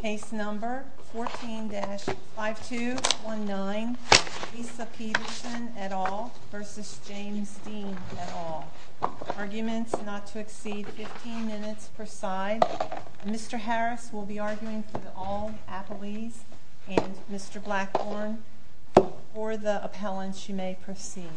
Case number 14-5219, Lisa Peterson et al. v. James Dean et al. Arguments not to exceed 15 minutes per side. Mr. Harris will be arguing for all appellees and Mr. Blackburn for the appellants you may proceed.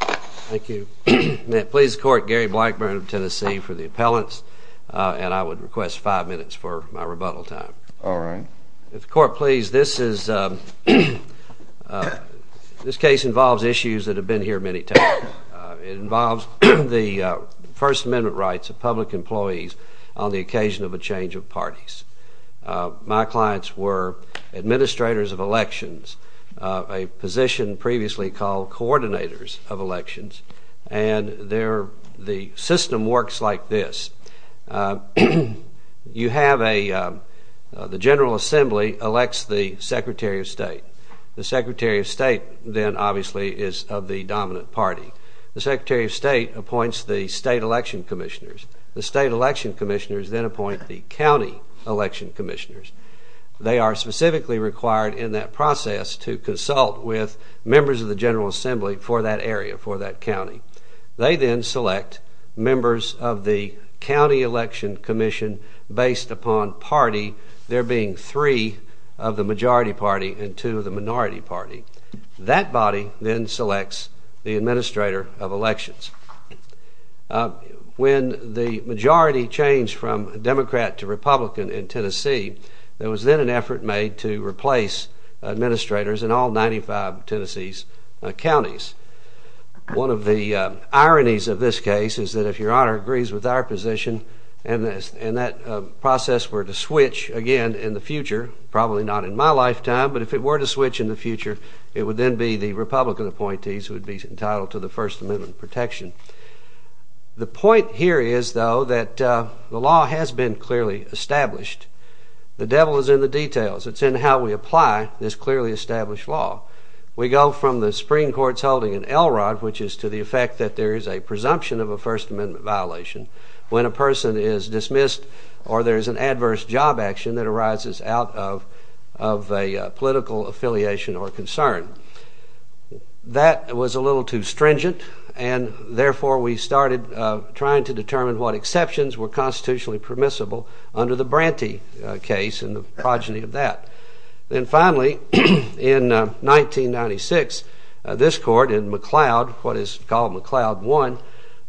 Thank you. May it please the court, Gary Blackburn of Tennessee for the appellants and I would request five minutes for my rebuttal time. All right. If the court please, this case involves issues that have been here many times. It involves the First Amendment rights of public employees on the occasion of a change of parties. My clients were administrators of elections, a position previously called coordinators of elections, and the system works like this. You have a – the General Assembly elects the Secretary of State. The Secretary of State then obviously is of the dominant party. The Secretary of State appoints the state election commissioners. The state election commissioners then appoint the county election commissioners. They are specifically required in that process to consult with members of the General Assembly for that area, for that county. They then select members of the county election commission based upon party, there being three of the majority party and two of the minority party. That body then selects the administrator of elections. When the majority changed from Democrat to Republican in Tennessee, there was then an effort made to replace administrators in all 95 Tennessee's counties. One of the ironies of this case is that if Your Honor agrees with our position and that process were to switch again in the future, probably not in my lifetime, but if it were to switch in the future, it would then be the Republican appointees who would be entitled to the First Amendment protection. The point here is, though, that the law has been clearly established. The devil is in the details. It's in how we apply this clearly established law. We go from the Supreme Court's holding in Elrod, which is to the effect that there is a presumption of a First Amendment violation, when a person is dismissed or there is an adverse job action that arises out of a political affiliation or concern. That was a little too stringent, and therefore we started trying to determine what exceptions were constitutionally permissible under the Branty case and the progeny of that. Then finally, in 1996, this court in McLeod, what is called McLeod 1,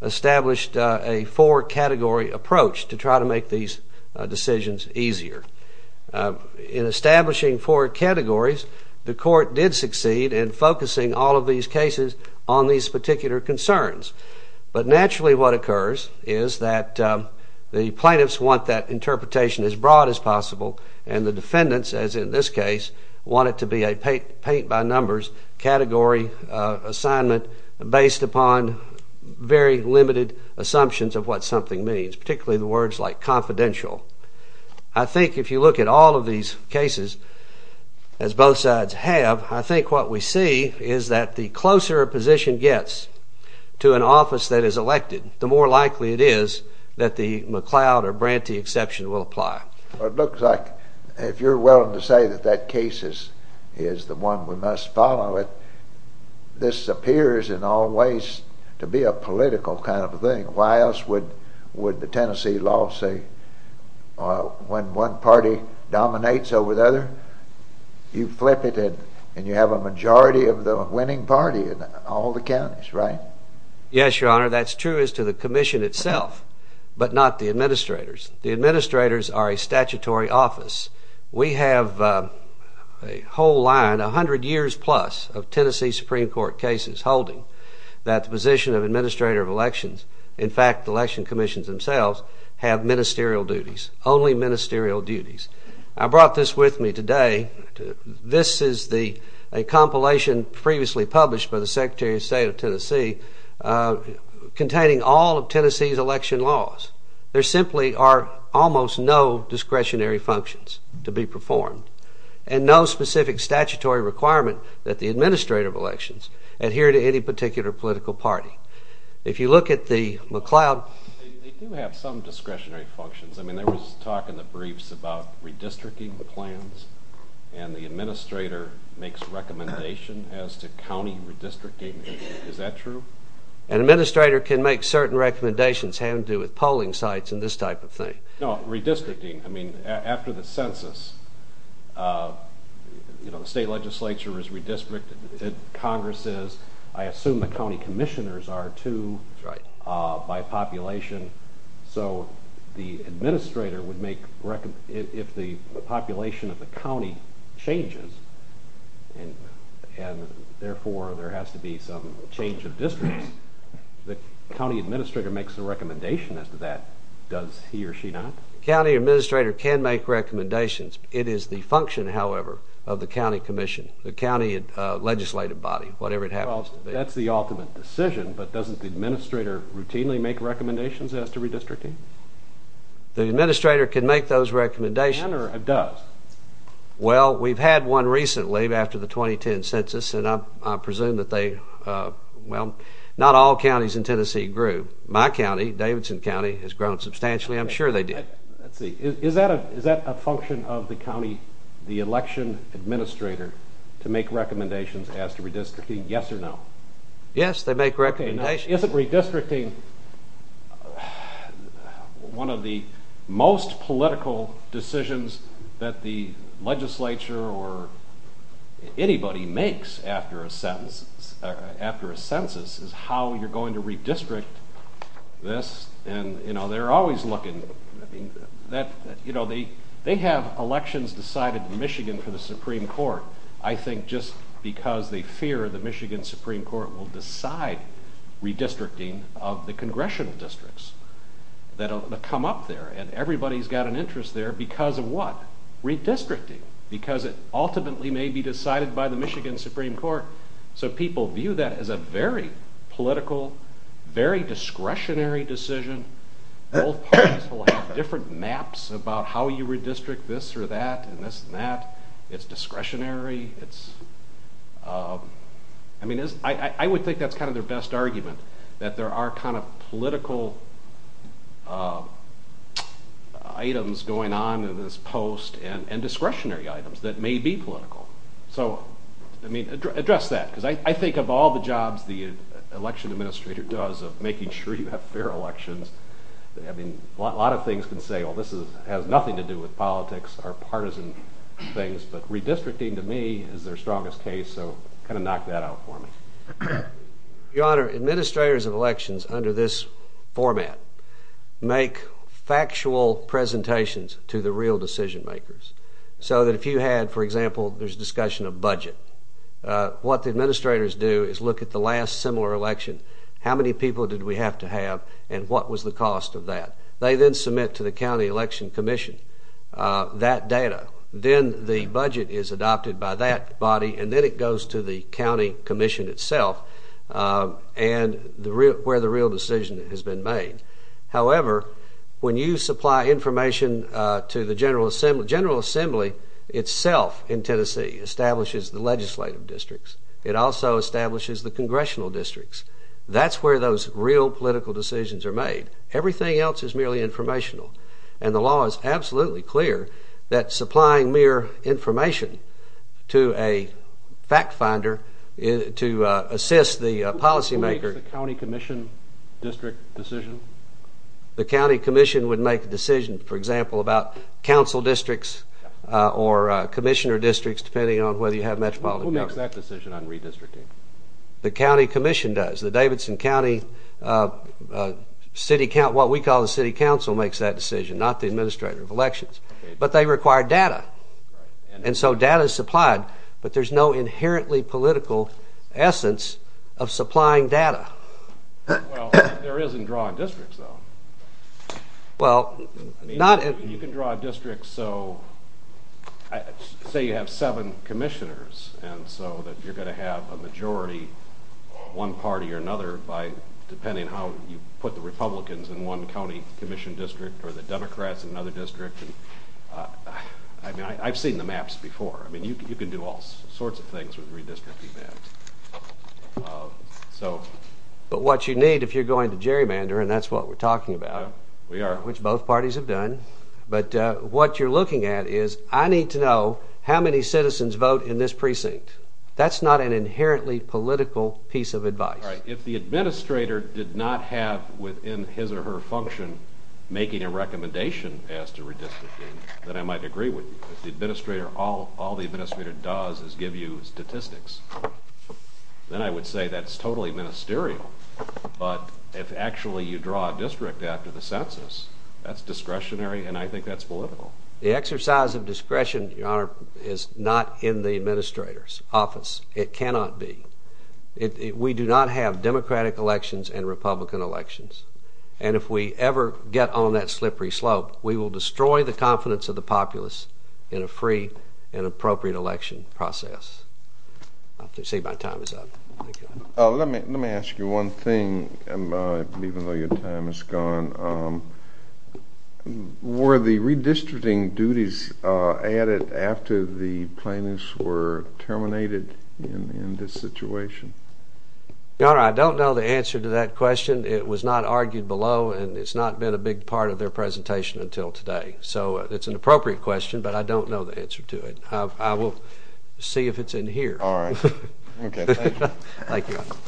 established a four-category approach to try to make these decisions easier. In establishing four categories, the court did succeed in focusing all of these cases on these particular concerns. But naturally what occurs is that the plaintiffs want that interpretation as broad as possible, and the defendants, as in this case, want it to be a paint-by-numbers category assignment based upon very limited assumptions of what something means, particularly the words like confidential. I think if you look at all of these cases, as both sides have, I think what we see is that the closer a position gets to an office that is elected, the more likely it is that the McLeod or Branty exception will apply. It looks like, if you're willing to say that that case is the one we must follow, this appears in all ways to be a political kind of a thing. Why else would the Tennessee law say when one party dominates over the other, you flip it and you have a majority of the winning party in all the counties, right? Yes, Your Honor, that's true as to the commission itself, but not the administrators. The administrators are a statutory office. We have a whole line, a hundred years plus, of Tennessee Supreme Court cases holding that the position of administrator of elections, in fact the election commissions themselves, have ministerial duties, only ministerial duties. I brought this with me today. This is a compilation previously published by the Secretary of State of Tennessee containing all of Tennessee's election laws. There simply are almost no discretionary functions to be performed, and no specific statutory requirement that the administrator of elections adhere to any particular political party. If you look at the McLeod... They do have some discretionary functions. I mean, there was talk in the briefs about redistricting plans, and the administrator makes recommendations as to county redistricting. Is that true? An administrator can make certain recommendations having to do with polling sites and this type of thing. No, redistricting. I mean, after the census, you know, the state legislature is redistricted. Congress is. I assume the county commissioners are, too, by population. So the administrator would make... If the population of the county changes, and therefore there has to be some change of districts, the county administrator makes a recommendation as to that. Does he or she not? The county administrator can make recommendations. It is the function, however, of the county commission, the county legislative body, whatever it happens to be. Well, that's the ultimate decision, but doesn't the administrator routinely make recommendations as to redistricting? The administrator can make those recommendations. Can or does? Well, we've had one recently after the 2010 census, and I presume that they... Well, not all counties in Tennessee grew. My county, Davidson County, has grown substantially. I'm sure they did. Let's see. Is that a function of the county, the election administrator, to make recommendations as to redistricting, yes or no? Yes, they make recommendations. Okay, now, isn't redistricting one of the most political decisions that the legislature or anybody makes after a census is how you're going to redistrict this? They're always looking. They have elections decided in Michigan for the Supreme Court. I think just because they fear the Michigan Supreme Court will decide redistricting of the congressional districts that come up there, and everybody's got an interest there because of what? Redistricting, because it ultimately may be decided by the Michigan Supreme Court. So people view that as a very political, very discretionary decision. Both parties will have different maps about how you redistrict this or that and this and that. It's discretionary. I would think that's kind of their best argument, that there are kind of political items going on in this post and discretionary items that may be political. So, I mean, address that, because I think of all the jobs the election administrator does of making sure you have fair elections, I mean, a lot of things can say, well, this has nothing to do with politics or partisan things, but redistricting to me is their strongest case, so kind of knock that out for me. Your Honor, administrators of elections under this format make factual presentations to the real decision makers, so that if you had, for example, there's discussion of budget, what the administrators do is look at the last similar election, how many people did we have to have, and what was the cost of that. They then submit to the county election commission that data. Then the budget is adopted by that body, and then it goes to the county commission itself where the real decision has been made. However, when you supply information to the General Assembly, the General Assembly itself in Tennessee establishes the legislative districts. It also establishes the congressional districts. That's where those real political decisions are made. Everything else is merely informational, and the law is absolutely clear that supplying mere information to a fact finder to assist the policymaker. Does the county commission district decision? The county commission would make a decision, for example, about council districts or commissioner districts, depending on whether you have metropolitan government. Who makes that decision on redistricting? The county commission does. The Davidson County City Council, what we call the city council, makes that decision, not the administrator of elections, but they require data, and so data is supplied, but there's no inherently political essence of supplying data. Well, there is in drawing districts, though. Well, not in... You can draw districts, so say you have seven commissioners, and so you're going to have a majority, one party or another, depending on how you put the Republicans in one county commission district or the Democrats in another district. I mean, I've seen the maps before. I mean, you can do all sorts of things with redistricting maps. But what you need, if you're going to gerrymander, and that's what we're talking about... We are. ...which both parties have done, but what you're looking at is, I need to know how many citizens vote in this precinct. That's not an inherently political piece of advice. All right, if the administrator did not have within his or her function making a recommendation as to redistricting, then I might agree with you. If the administrator, all the administrator does is give you statistics, then I would say that's totally ministerial, but if actually you draw a district after the census, that's discretionary, and I think that's political. The exercise of discretion, Your Honor, is not in the administrator's office. It cannot be. We do not have Democratic elections and Republican elections, and if we ever get on that slippery slope, we will destroy the confidence of the populace in a free and appropriate election process. I see my time is up. Let me ask you one thing, even though your time is gone. Were the redistricting duties added after the plaintiffs were terminated in this situation? Your Honor, I don't know the answer to that question. It was not argued below, and it's not been a big part of their presentation until today, so it's an appropriate question, but I don't know the answer to it. I will see if it's in here. Thank you. Thank you, Your Honor.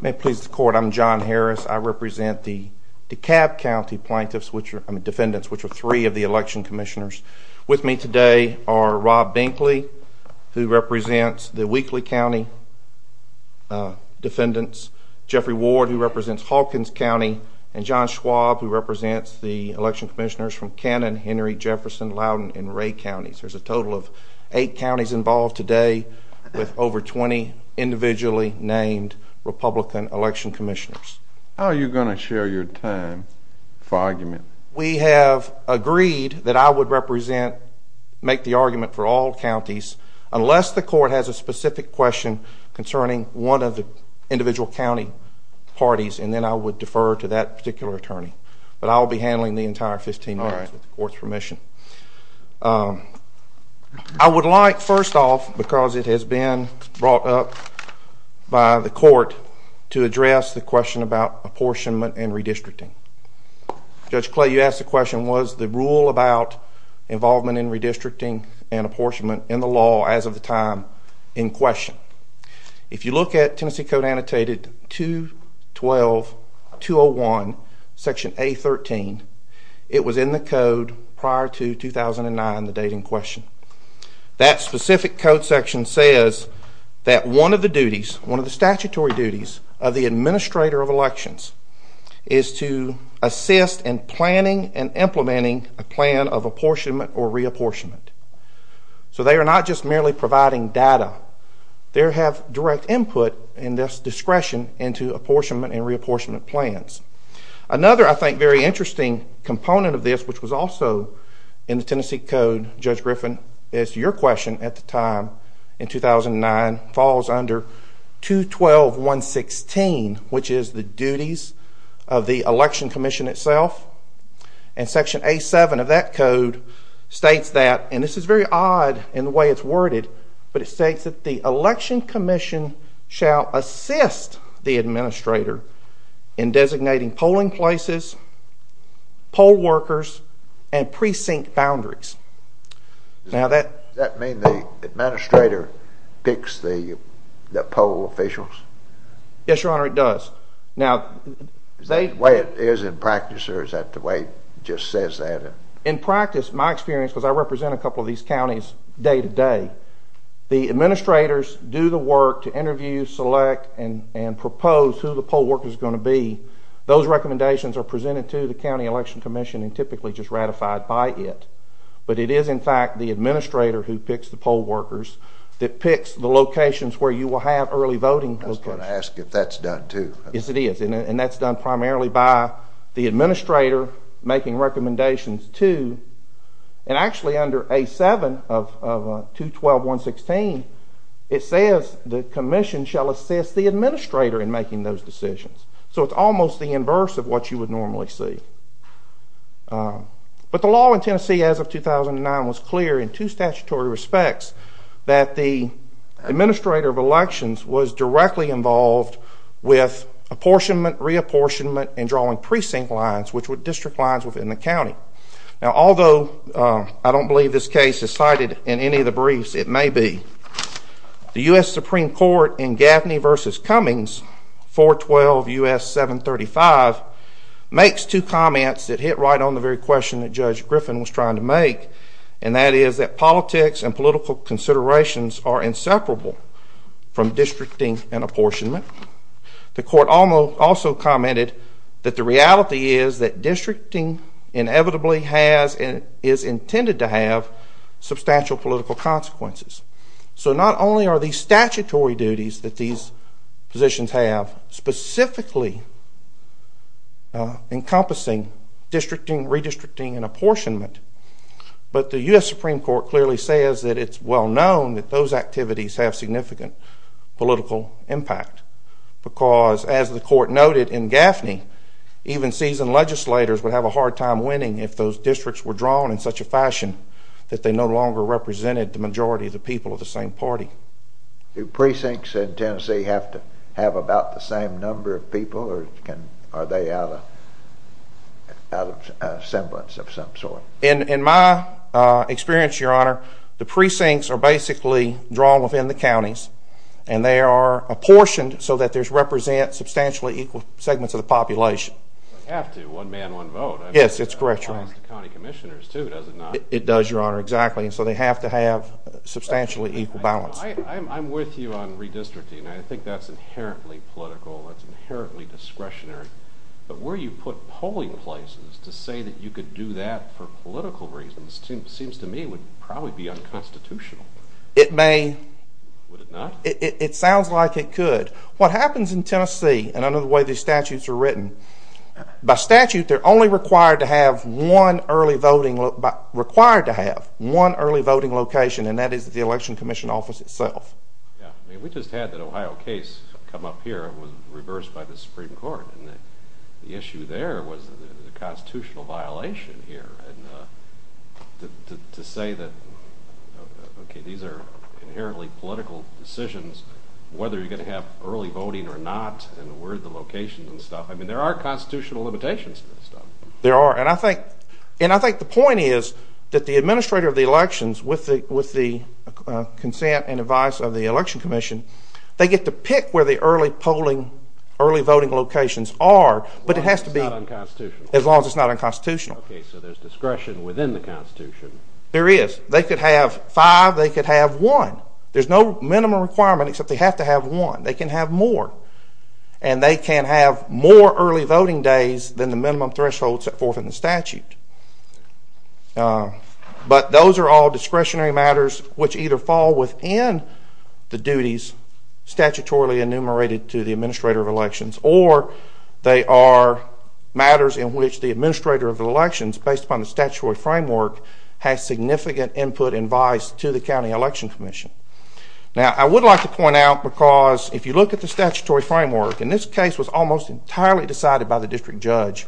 May it please the Court, I'm John Harris. I represent the DeKalb County plaintiffs, I mean defendants, which are three of the election commissioners. With me today are Rob Binkley, who represents the Wheatley County defendants, Jeffrey Ward, who represents Hawkins County, and John Schwab, who represents the election commissioners from Cannon, Henry, Jefferson, Loudoun, and Ray counties. There's a total of eight counties involved today with over 20 individually named Republican election commissioners. How are you going to share your time for argument? We have agreed that I would represent, make the argument for all counties, unless the Court has a specific question concerning one of the individual county parties, and then I would defer to that particular attorney. But I'll be handling the entire 15 minutes with the Court's permission. I would like, first off, because it has been brought up by the Court, to address the question about apportionment and redistricting. Judge Clay, you asked the question, was the rule about involvement in redistricting and apportionment in the law as of the time in question? If you look at Tennessee Code Annotated 212-201, Section A-13, it was in the code prior to 2009, the date in question. That specific code section says that one of the duties, one of the statutory duties of the administrator of elections is to assist in planning and implementing a plan of apportionment or reapportionment. So they are not just merely providing data. They have direct input and discretion into apportionment and reapportionment plans. Another, I think, very interesting component of this, which was also in the Tennessee Code, Judge Griffin, is your question at the time in 2009 falls under 212-116, which is the duties of the election commission itself. And Section A-7 of that code states that, and this is very odd in the way it's worded, but it states that the election commission shall assist the administrator in designating polling places, poll workers, and precinct boundaries. Does that mean the administrator picks the poll officials? Yes, Your Honor, it does. Is that the way it is in practice, or is that the way it just says that? In practice, my experience, because I represent a couple of these counties day to day, the administrators do the work to interview, select, and propose who the poll worker is going to be. Those recommendations are presented to the county election commission and typically just ratified by it. But it is, in fact, the administrator who picks the poll workers that picks the locations where you will have early voting locations. I was going to ask if that's done, too. Yes, it is, and that's done primarily by the administrator making recommendations to, and actually under A-7 of 212.116, it says the commission shall assist the administrator in making those decisions. So it's almost the inverse of what you would normally see. But the law in Tennessee as of 2009 was clear in two statutory respects that the administrator of elections was directly involved with apportionment, reapportionment, and drawing precinct lines, which were district lines within the county. Now, although I don't believe this case is cited in any of the briefs, it may be, the U.S. Supreme Court in Gaffney v. Cummings, 412 U.S. 735, makes two comments that hit right on the very question that Judge Griffin was trying to make, and that is that politics and political considerations are inseparable from districting and apportionment. The court also commented that the reality is that districting inevitably has and is intended to have substantial political consequences. So not only are these statutory duties that these positions have specifically encompassing districting, redistricting, and apportionment, but the U.S. Supreme Court clearly says that it's well known that those activities have significant political impact, because as the court noted in Gaffney, even seasoned legislators would have a hard time winning if those districts were drawn in such a fashion that they no longer represented the majority of the people of the same party. Do precincts in Tennessee have to have about the same number of people, or are they out of semblance of some sort? In my experience, Your Honor, the precincts are basically drawn within the counties, and they are apportioned so that they represent substantially equal segments of the population. They have to, one man, one vote. Yes, it's correct, Your Honor. That applies to county commissioners, too, does it not? It does, Your Honor, exactly. So they have to have substantially equal balance. I'm with you on redistricting. I think that's inherently political. That's inherently discretionary. But where you put polling places to say that you could do that for political reasons seems to me would probably be unconstitutional. It may. Would it not? It sounds like it could. What happens in Tennessee, and I know the way these statutes are written, by statute they're only required to have one early voting location, and that is the election commission office itself. We just had the Ohio case come up here. It was reversed by the Supreme Court. The issue there was the constitutional violation here. And to say that, okay, these are inherently political decisions, whether you're going to have early voting or not, and where are the locations and stuff, I mean there are constitutional limitations to this stuff. There are. And I think the point is that the administrator of the elections, with the consent and advice of the election commission, they get to pick where the early voting locations are, but it has to be As long as it's not unconstitutional. As long as it's not unconstitutional. Okay, so there's discretion within the Constitution. There is. They could have five. They could have one. There's no minimum requirement except they have to have one. They can have more. And they can have more early voting days than the minimum threshold set forth in the statute. But those are all discretionary matters which either fall within the duties statutorily enumerated to the administrator of elections, or they are matters in which the administrator of the elections, based upon the statutory framework, has significant input and advice to the county election commission. Now, I would like to point out, because if you look at the statutory framework, and this case was almost entirely decided by the district judge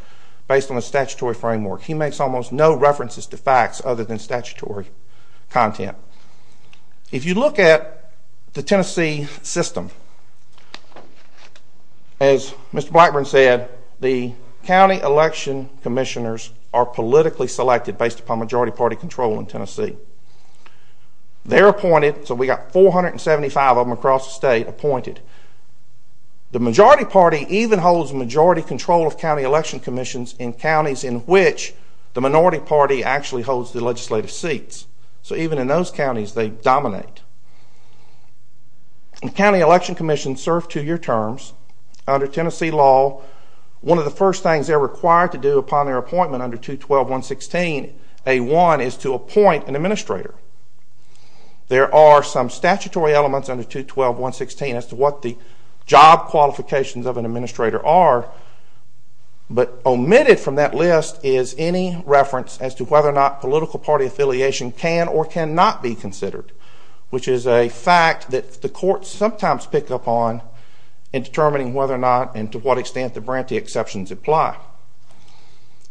based on the statutory framework. He makes almost no references to facts other than statutory content. If you look at the Tennessee system, as Mr. Blackburn said, the county election commissioners are politically selected based upon majority party control in Tennessee. They're appointed. So we've got 475 of them across the state appointed. The majority party even holds majority control of county election commissions in counties in which the minority party actually holds the legislative seats. So even in those counties, they dominate. The county election commissions serve two-year terms under Tennessee law. One of the first things they're required to do upon their appointment under 212.116.A1 is to appoint an administrator. There are some statutory elements under 212.116 as to what the job qualifications of an administrator are, but omitted from that list is any reference as to whether or not political party affiliation can or cannot be considered, which is a fact that the courts sometimes pick up on in determining whether or not and to what extent the branty exceptions apply.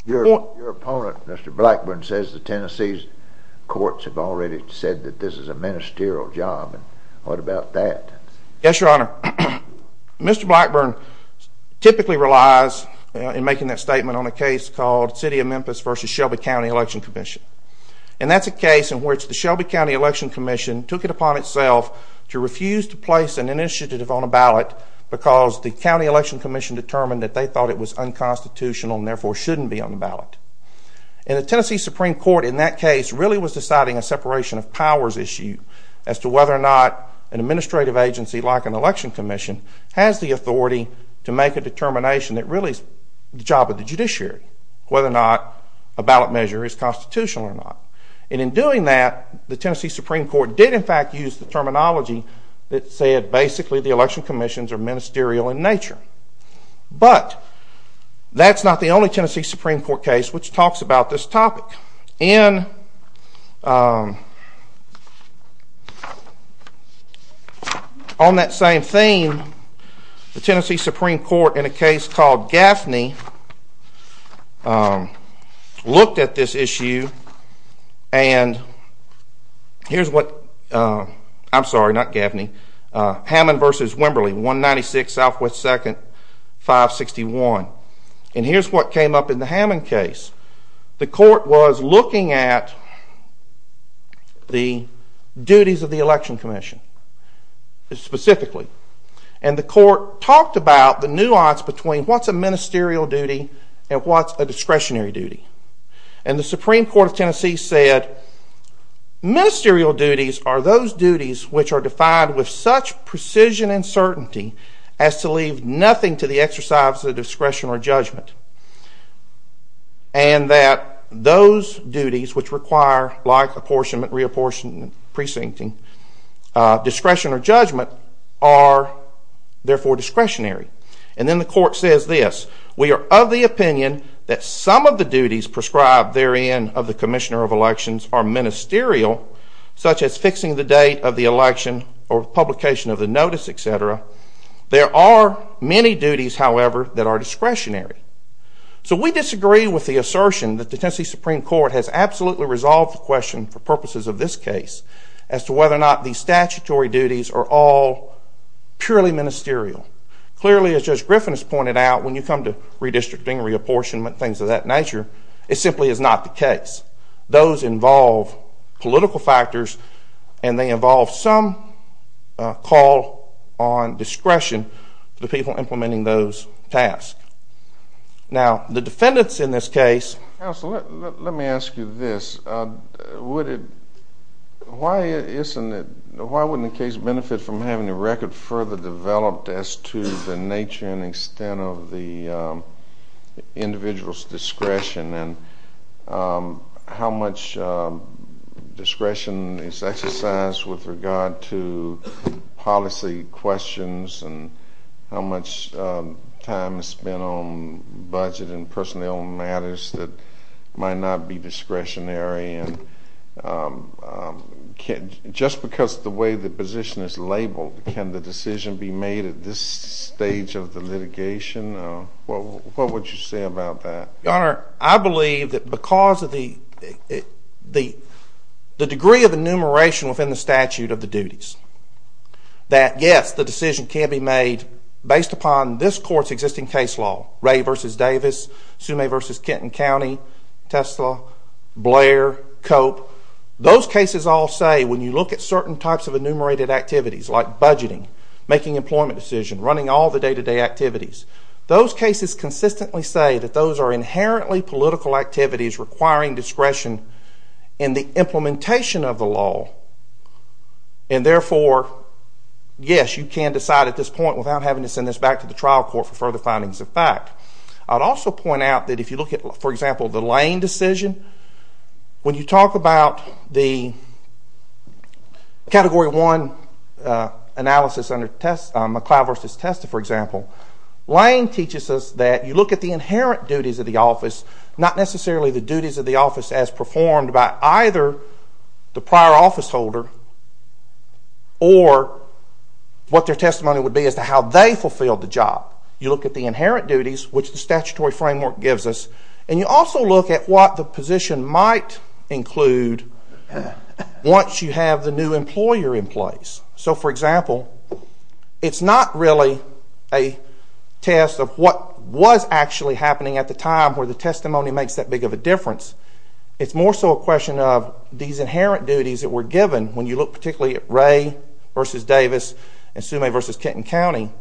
Your opponent, Mr. Blackburn, says the Tennessee courts have already said that this is a ministerial job. What about that? Yes, Your Honor. Mr. Blackburn typically relies in making that statement on a case called City of Memphis v. Shelby County Election Commission, and that's a case in which the Shelby County Election Commission took it upon itself to refuse to place an initiative on a ballot because the County Election Commission determined that they thought it was unconstitutional and therefore shouldn't be on the ballot. And the Tennessee Supreme Court in that case really was deciding a separation of powers issue as to whether or not an administrative agency like an election commission has the authority to make a determination that really is the job of the judiciary, whether or not a ballot measure is constitutional or not. And in doing that, the Tennessee Supreme Court did in fact use the terminology that said basically the election commissions are ministerial in nature. But that's not the only Tennessee Supreme Court case which talks about this topic. And on that same theme, the Tennessee Supreme Court in a case called Gaffney looked at this issue and here's what, I'm sorry, not Gaffney, Hammond v. Wimberly, 196 Southwest 2nd, 561. And here's what came up in the Hammond case. The court was looking at the duties of the election commission specifically. And the court talked about the nuance between what's a ministerial duty and what's a discretionary duty. And the Supreme Court of Tennessee said ministerial duties are those duties which are defined with such precision and certainty as to leave nothing to the exercise of discretion or judgment. And that those duties which require like apportionment, reapportionment, precincting, discretion or judgment are therefore discretionary. And then the court says this. We are of the opinion that some of the duties prescribed therein of the commissioner of elections are ministerial, such as fixing the date of the election or publication of the notice, et cetera. There are many duties, however, that are discretionary. So we disagree with the assertion that the Tennessee Supreme Court has absolutely resolved the question for purposes of this case as to whether or not these statutory duties are all purely ministerial. Clearly, as Judge Griffin has pointed out, when you come to redistricting, reapportionment, things of that nature, it simply is not the case. Those involve political factors, and they involve some call on discretion for the people implementing those tasks. Now, the defendants in this case Counsel, let me ask you this. Why wouldn't the case benefit from having the record further developed as to the nature and extent of the individual's discretion and how much discretion is exercised with regard to policy questions and how much time is spent on budget and personnel matters that might not be discretionary? Just because of the way the position is labeled, can the decision be made at this stage of the litigation? What would you say about that? Your Honor, I believe that because of the degree of enumeration within the statute of the duties, that, yes, the decision can be made based upon this Court's existing case law, Ray v. Davis, Sumay v. Kenton County, Tesla, Blair, Cope. Those cases all say, when you look at certain types of enumerated activities, like budgeting, making employment decisions, running all the day-to-day activities, those cases consistently say that those are inherently political activities requiring discretion in the implementation of the law and, therefore, yes, you can decide at this point without having to send this back to the trial court for further findings of fact. I would also point out that if you look at, for example, the Lane decision, when you talk about the Category 1 analysis under McLeod v. Testa, for example, Lane teaches us that you look at the inherent duties of the office, not necessarily the duties of the office as performed by either the prior office holder or what their testimony would be as to how they fulfilled the job. You look at the inherent duties, which the statutory framework gives us, and you also look at what the position might include once you have the new employer in place. So, for example, it's not really a test of what was actually happening at the time where the testimony makes that big of a difference. It's more so a question of these inherent duties that were given when you look particularly at Ray v. Davis and Sumay v. Kenton County.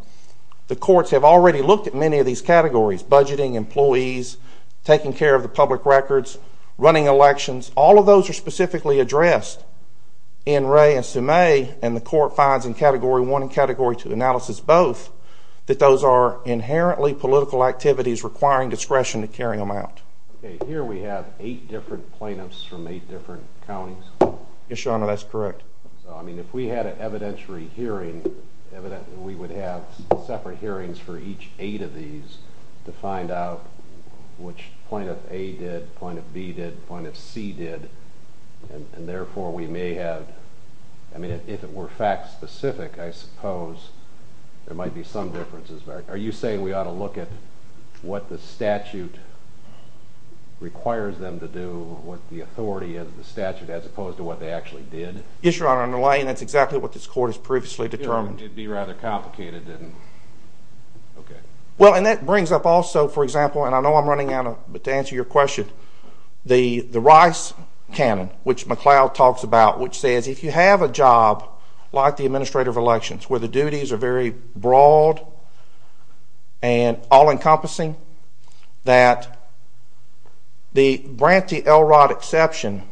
The courts have already looked at many of these categories, budgeting, employees, taking care of the public records, running elections. All of those are specifically addressed in Ray and Sumay, and the court finds in Category 1 and Category 2 analysis both that those are inherently political activities requiring discretion to carry them out. Okay, here we have eight different plaintiffs from eight different counties. Yes, Your Honor, that's correct. So, I mean, if we had an evidentiary hearing, we would have separate hearings for each eight of these to find out which plaintiff A did, plaintiff B did, plaintiff C did, and therefore we may have, I mean, if it were fact-specific, I suppose there might be some differences there. Are you saying we ought to look at what the statute requires them to do, what the authority of the statute, as opposed to what they actually did? Yes, Your Honor, and that's exactly what this court has previously determined. It would be rather complicated. Well, and that brings up also, for example, and I know I'm running out of time to answer your question, the Rice canon, which McCloud talks about, which says if you have a job like the Administrator of Elections where the duties are very broad and all-encompassing, that the grantee LROD exception,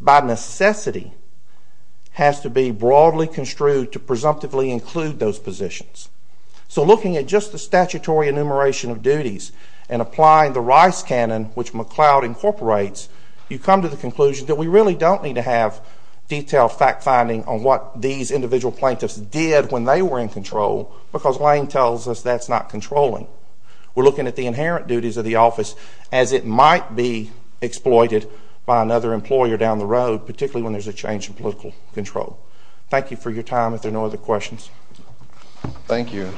by necessity, has to be broadly construed to presumptively include those positions. So looking at just the statutory enumeration of duties and applying the Rice canon, which McCloud incorporates, you come to the conclusion that we really don't need to have detailed fact-finding on what these individual plaintiffs did when they were in control because Lane tells us that's not controlling. We're looking at the inherent duties of the office as it might be exploited by another employer down the road, particularly when there's a change in political control. Thank you for your time. If there are no other questions. Thank you.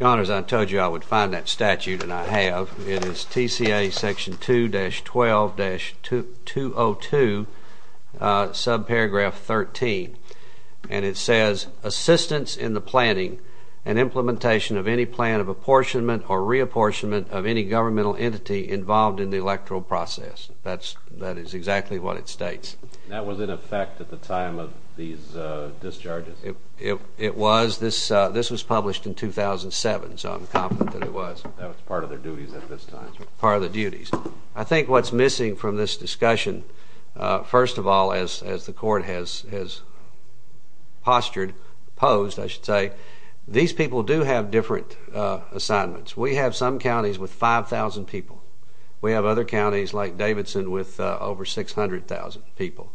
Your Honor, as I told you, I would find that statute, and I have. It is TCA section 2-12-202, subparagraph 13, and it says, assistance in the planning and implementation of any plan of apportionment or reapportionment of any governmental entity involved in the electoral process. That is exactly what it states. That was in effect at the time of these discharges. It was. This was published in 2007, so I'm confident that it was. That was part of their duties at this time. Part of their duties. I think what's missing from this discussion, first of all, as the Court has postured, posed, I should say, these people do have different assignments. We have some counties with 5,000 people. We have other counties like Davidson with over 600,000 people.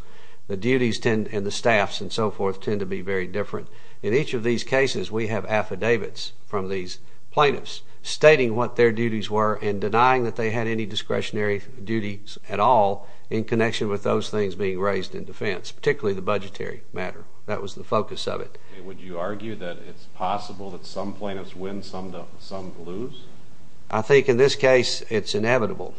The duties and the staffs and so forth tend to be very different. In each of these cases, we have affidavits from these plaintiffs stating what their duties were and denying that they had any discretionary duties at all in connection with those things being raised in defense, particularly the budgetary matter. That was the focus of it. Would you argue that it's possible that some plaintiffs win, some lose? I think in this case it's inevitable.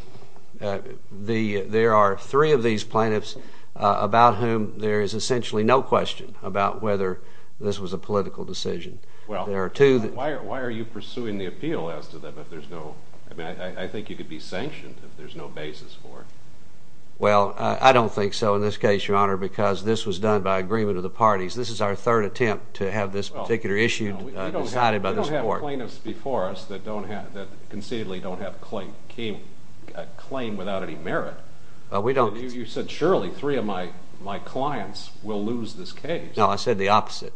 There are three of these plaintiffs about whom there is essentially no question about whether this was a political decision. Why are you pursuing the appeal as to that? I think you could be sanctioned if there's no basis for it. Well, I don't think so in this case, Your Honor, because this was done by agreement of the parties. This is our third attempt to have this particular issue decided by this Court. There are plaintiffs before us that concededly don't have a claim without any merit. You said surely three of my clients will lose this case. No, I said the opposite.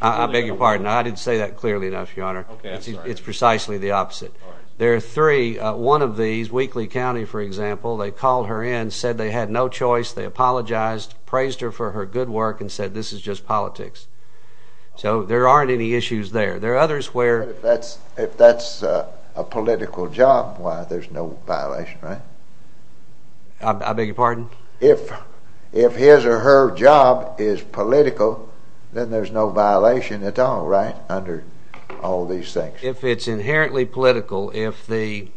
I beg your pardon. I didn't say that clearly enough, Your Honor. It's precisely the opposite. There are three. One of these, Wheatley County, for example, they called her in, said they had no choice, they apologized, praised her for her good work, and said this is just politics. So there aren't any issues there. There are others where... But if that's a political job, why, there's no violation, right? I beg your pardon? If his or her job is political, then there's no violation at all, right, under all these things. If it's inherently political, if the...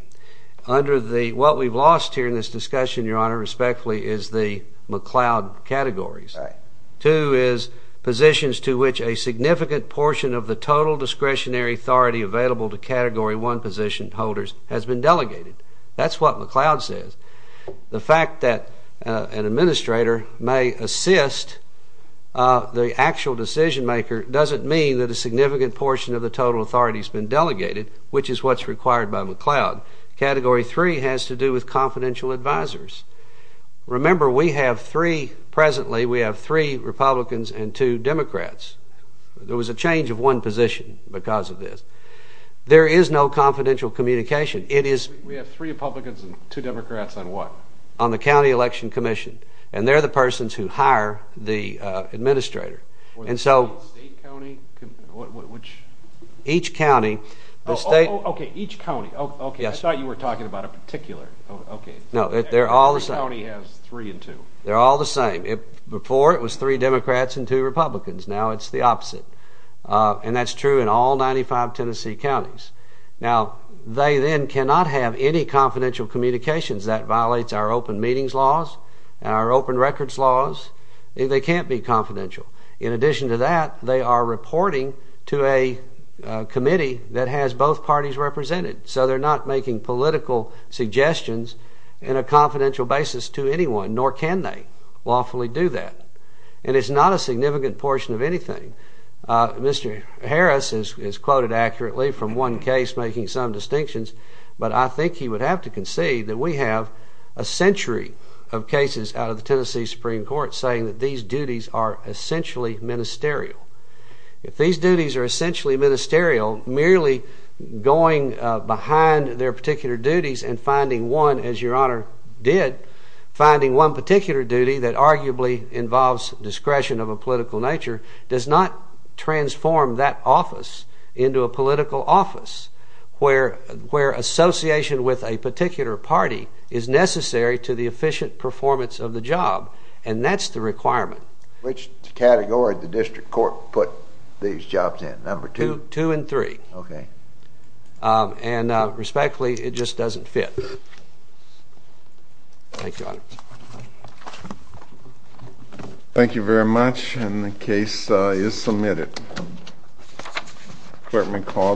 Under the... What we've lost here in this discussion, Your Honor, respectfully, is the McLeod categories. Right. Two is positions to which a significant portion of the total discretionary authority available to Category 1 position holders has been delegated. That's what McLeod says. The fact that an administrator may assist the actual decision-maker doesn't mean that a significant portion of the total authority has been delegated, which is what's required by McLeod. Category 3 has to do with confidential advisors. Remember, we have three... Presently, we have three Republicans and two Democrats. There was a change of one position because of this. There is no confidential communication. It is... We have three Republicans and two Democrats on what? On the County Election Commission. And they're the persons who hire the administrator. And so... State, county? Which... Each county. Oh, okay, each county. Okay, I thought you were talking about a particular... No, they're all the same. Each county has three and two. They're all the same. Before, it was three Democrats and two Republicans. Now it's the opposite. And that's true in all 95 Tennessee counties. Now, they then cannot have any confidential communications. That violates our open meetings laws and our open records laws. They can't be confidential. In addition to that, they are reporting to a committee that has both parties represented. So they're not making political suggestions in a confidential basis to anyone, nor can they lawfully do that. And it's not a significant portion of anything. Mr. Harris is quoted accurately from one case making some distinctions, but I think he would have to concede that we have a century of cases out of the Tennessee Supreme Court saying that these duties are essentially ministerial. If these duties are essentially ministerial, merely going behind their particular duties and finding one, as Your Honor did, finding one particular duty that arguably involves discretion of a political nature does not transform that office into a political office where association with a particular party is necessary to the efficient performance of the job. And that's the requirement. Which category did the district court put these jobs in, number two? Two and three. Okay. And respectfully, it just doesn't fit. Thank you, Your Honor. Thank you very much, and the case is submitted. Clerk may call the roll.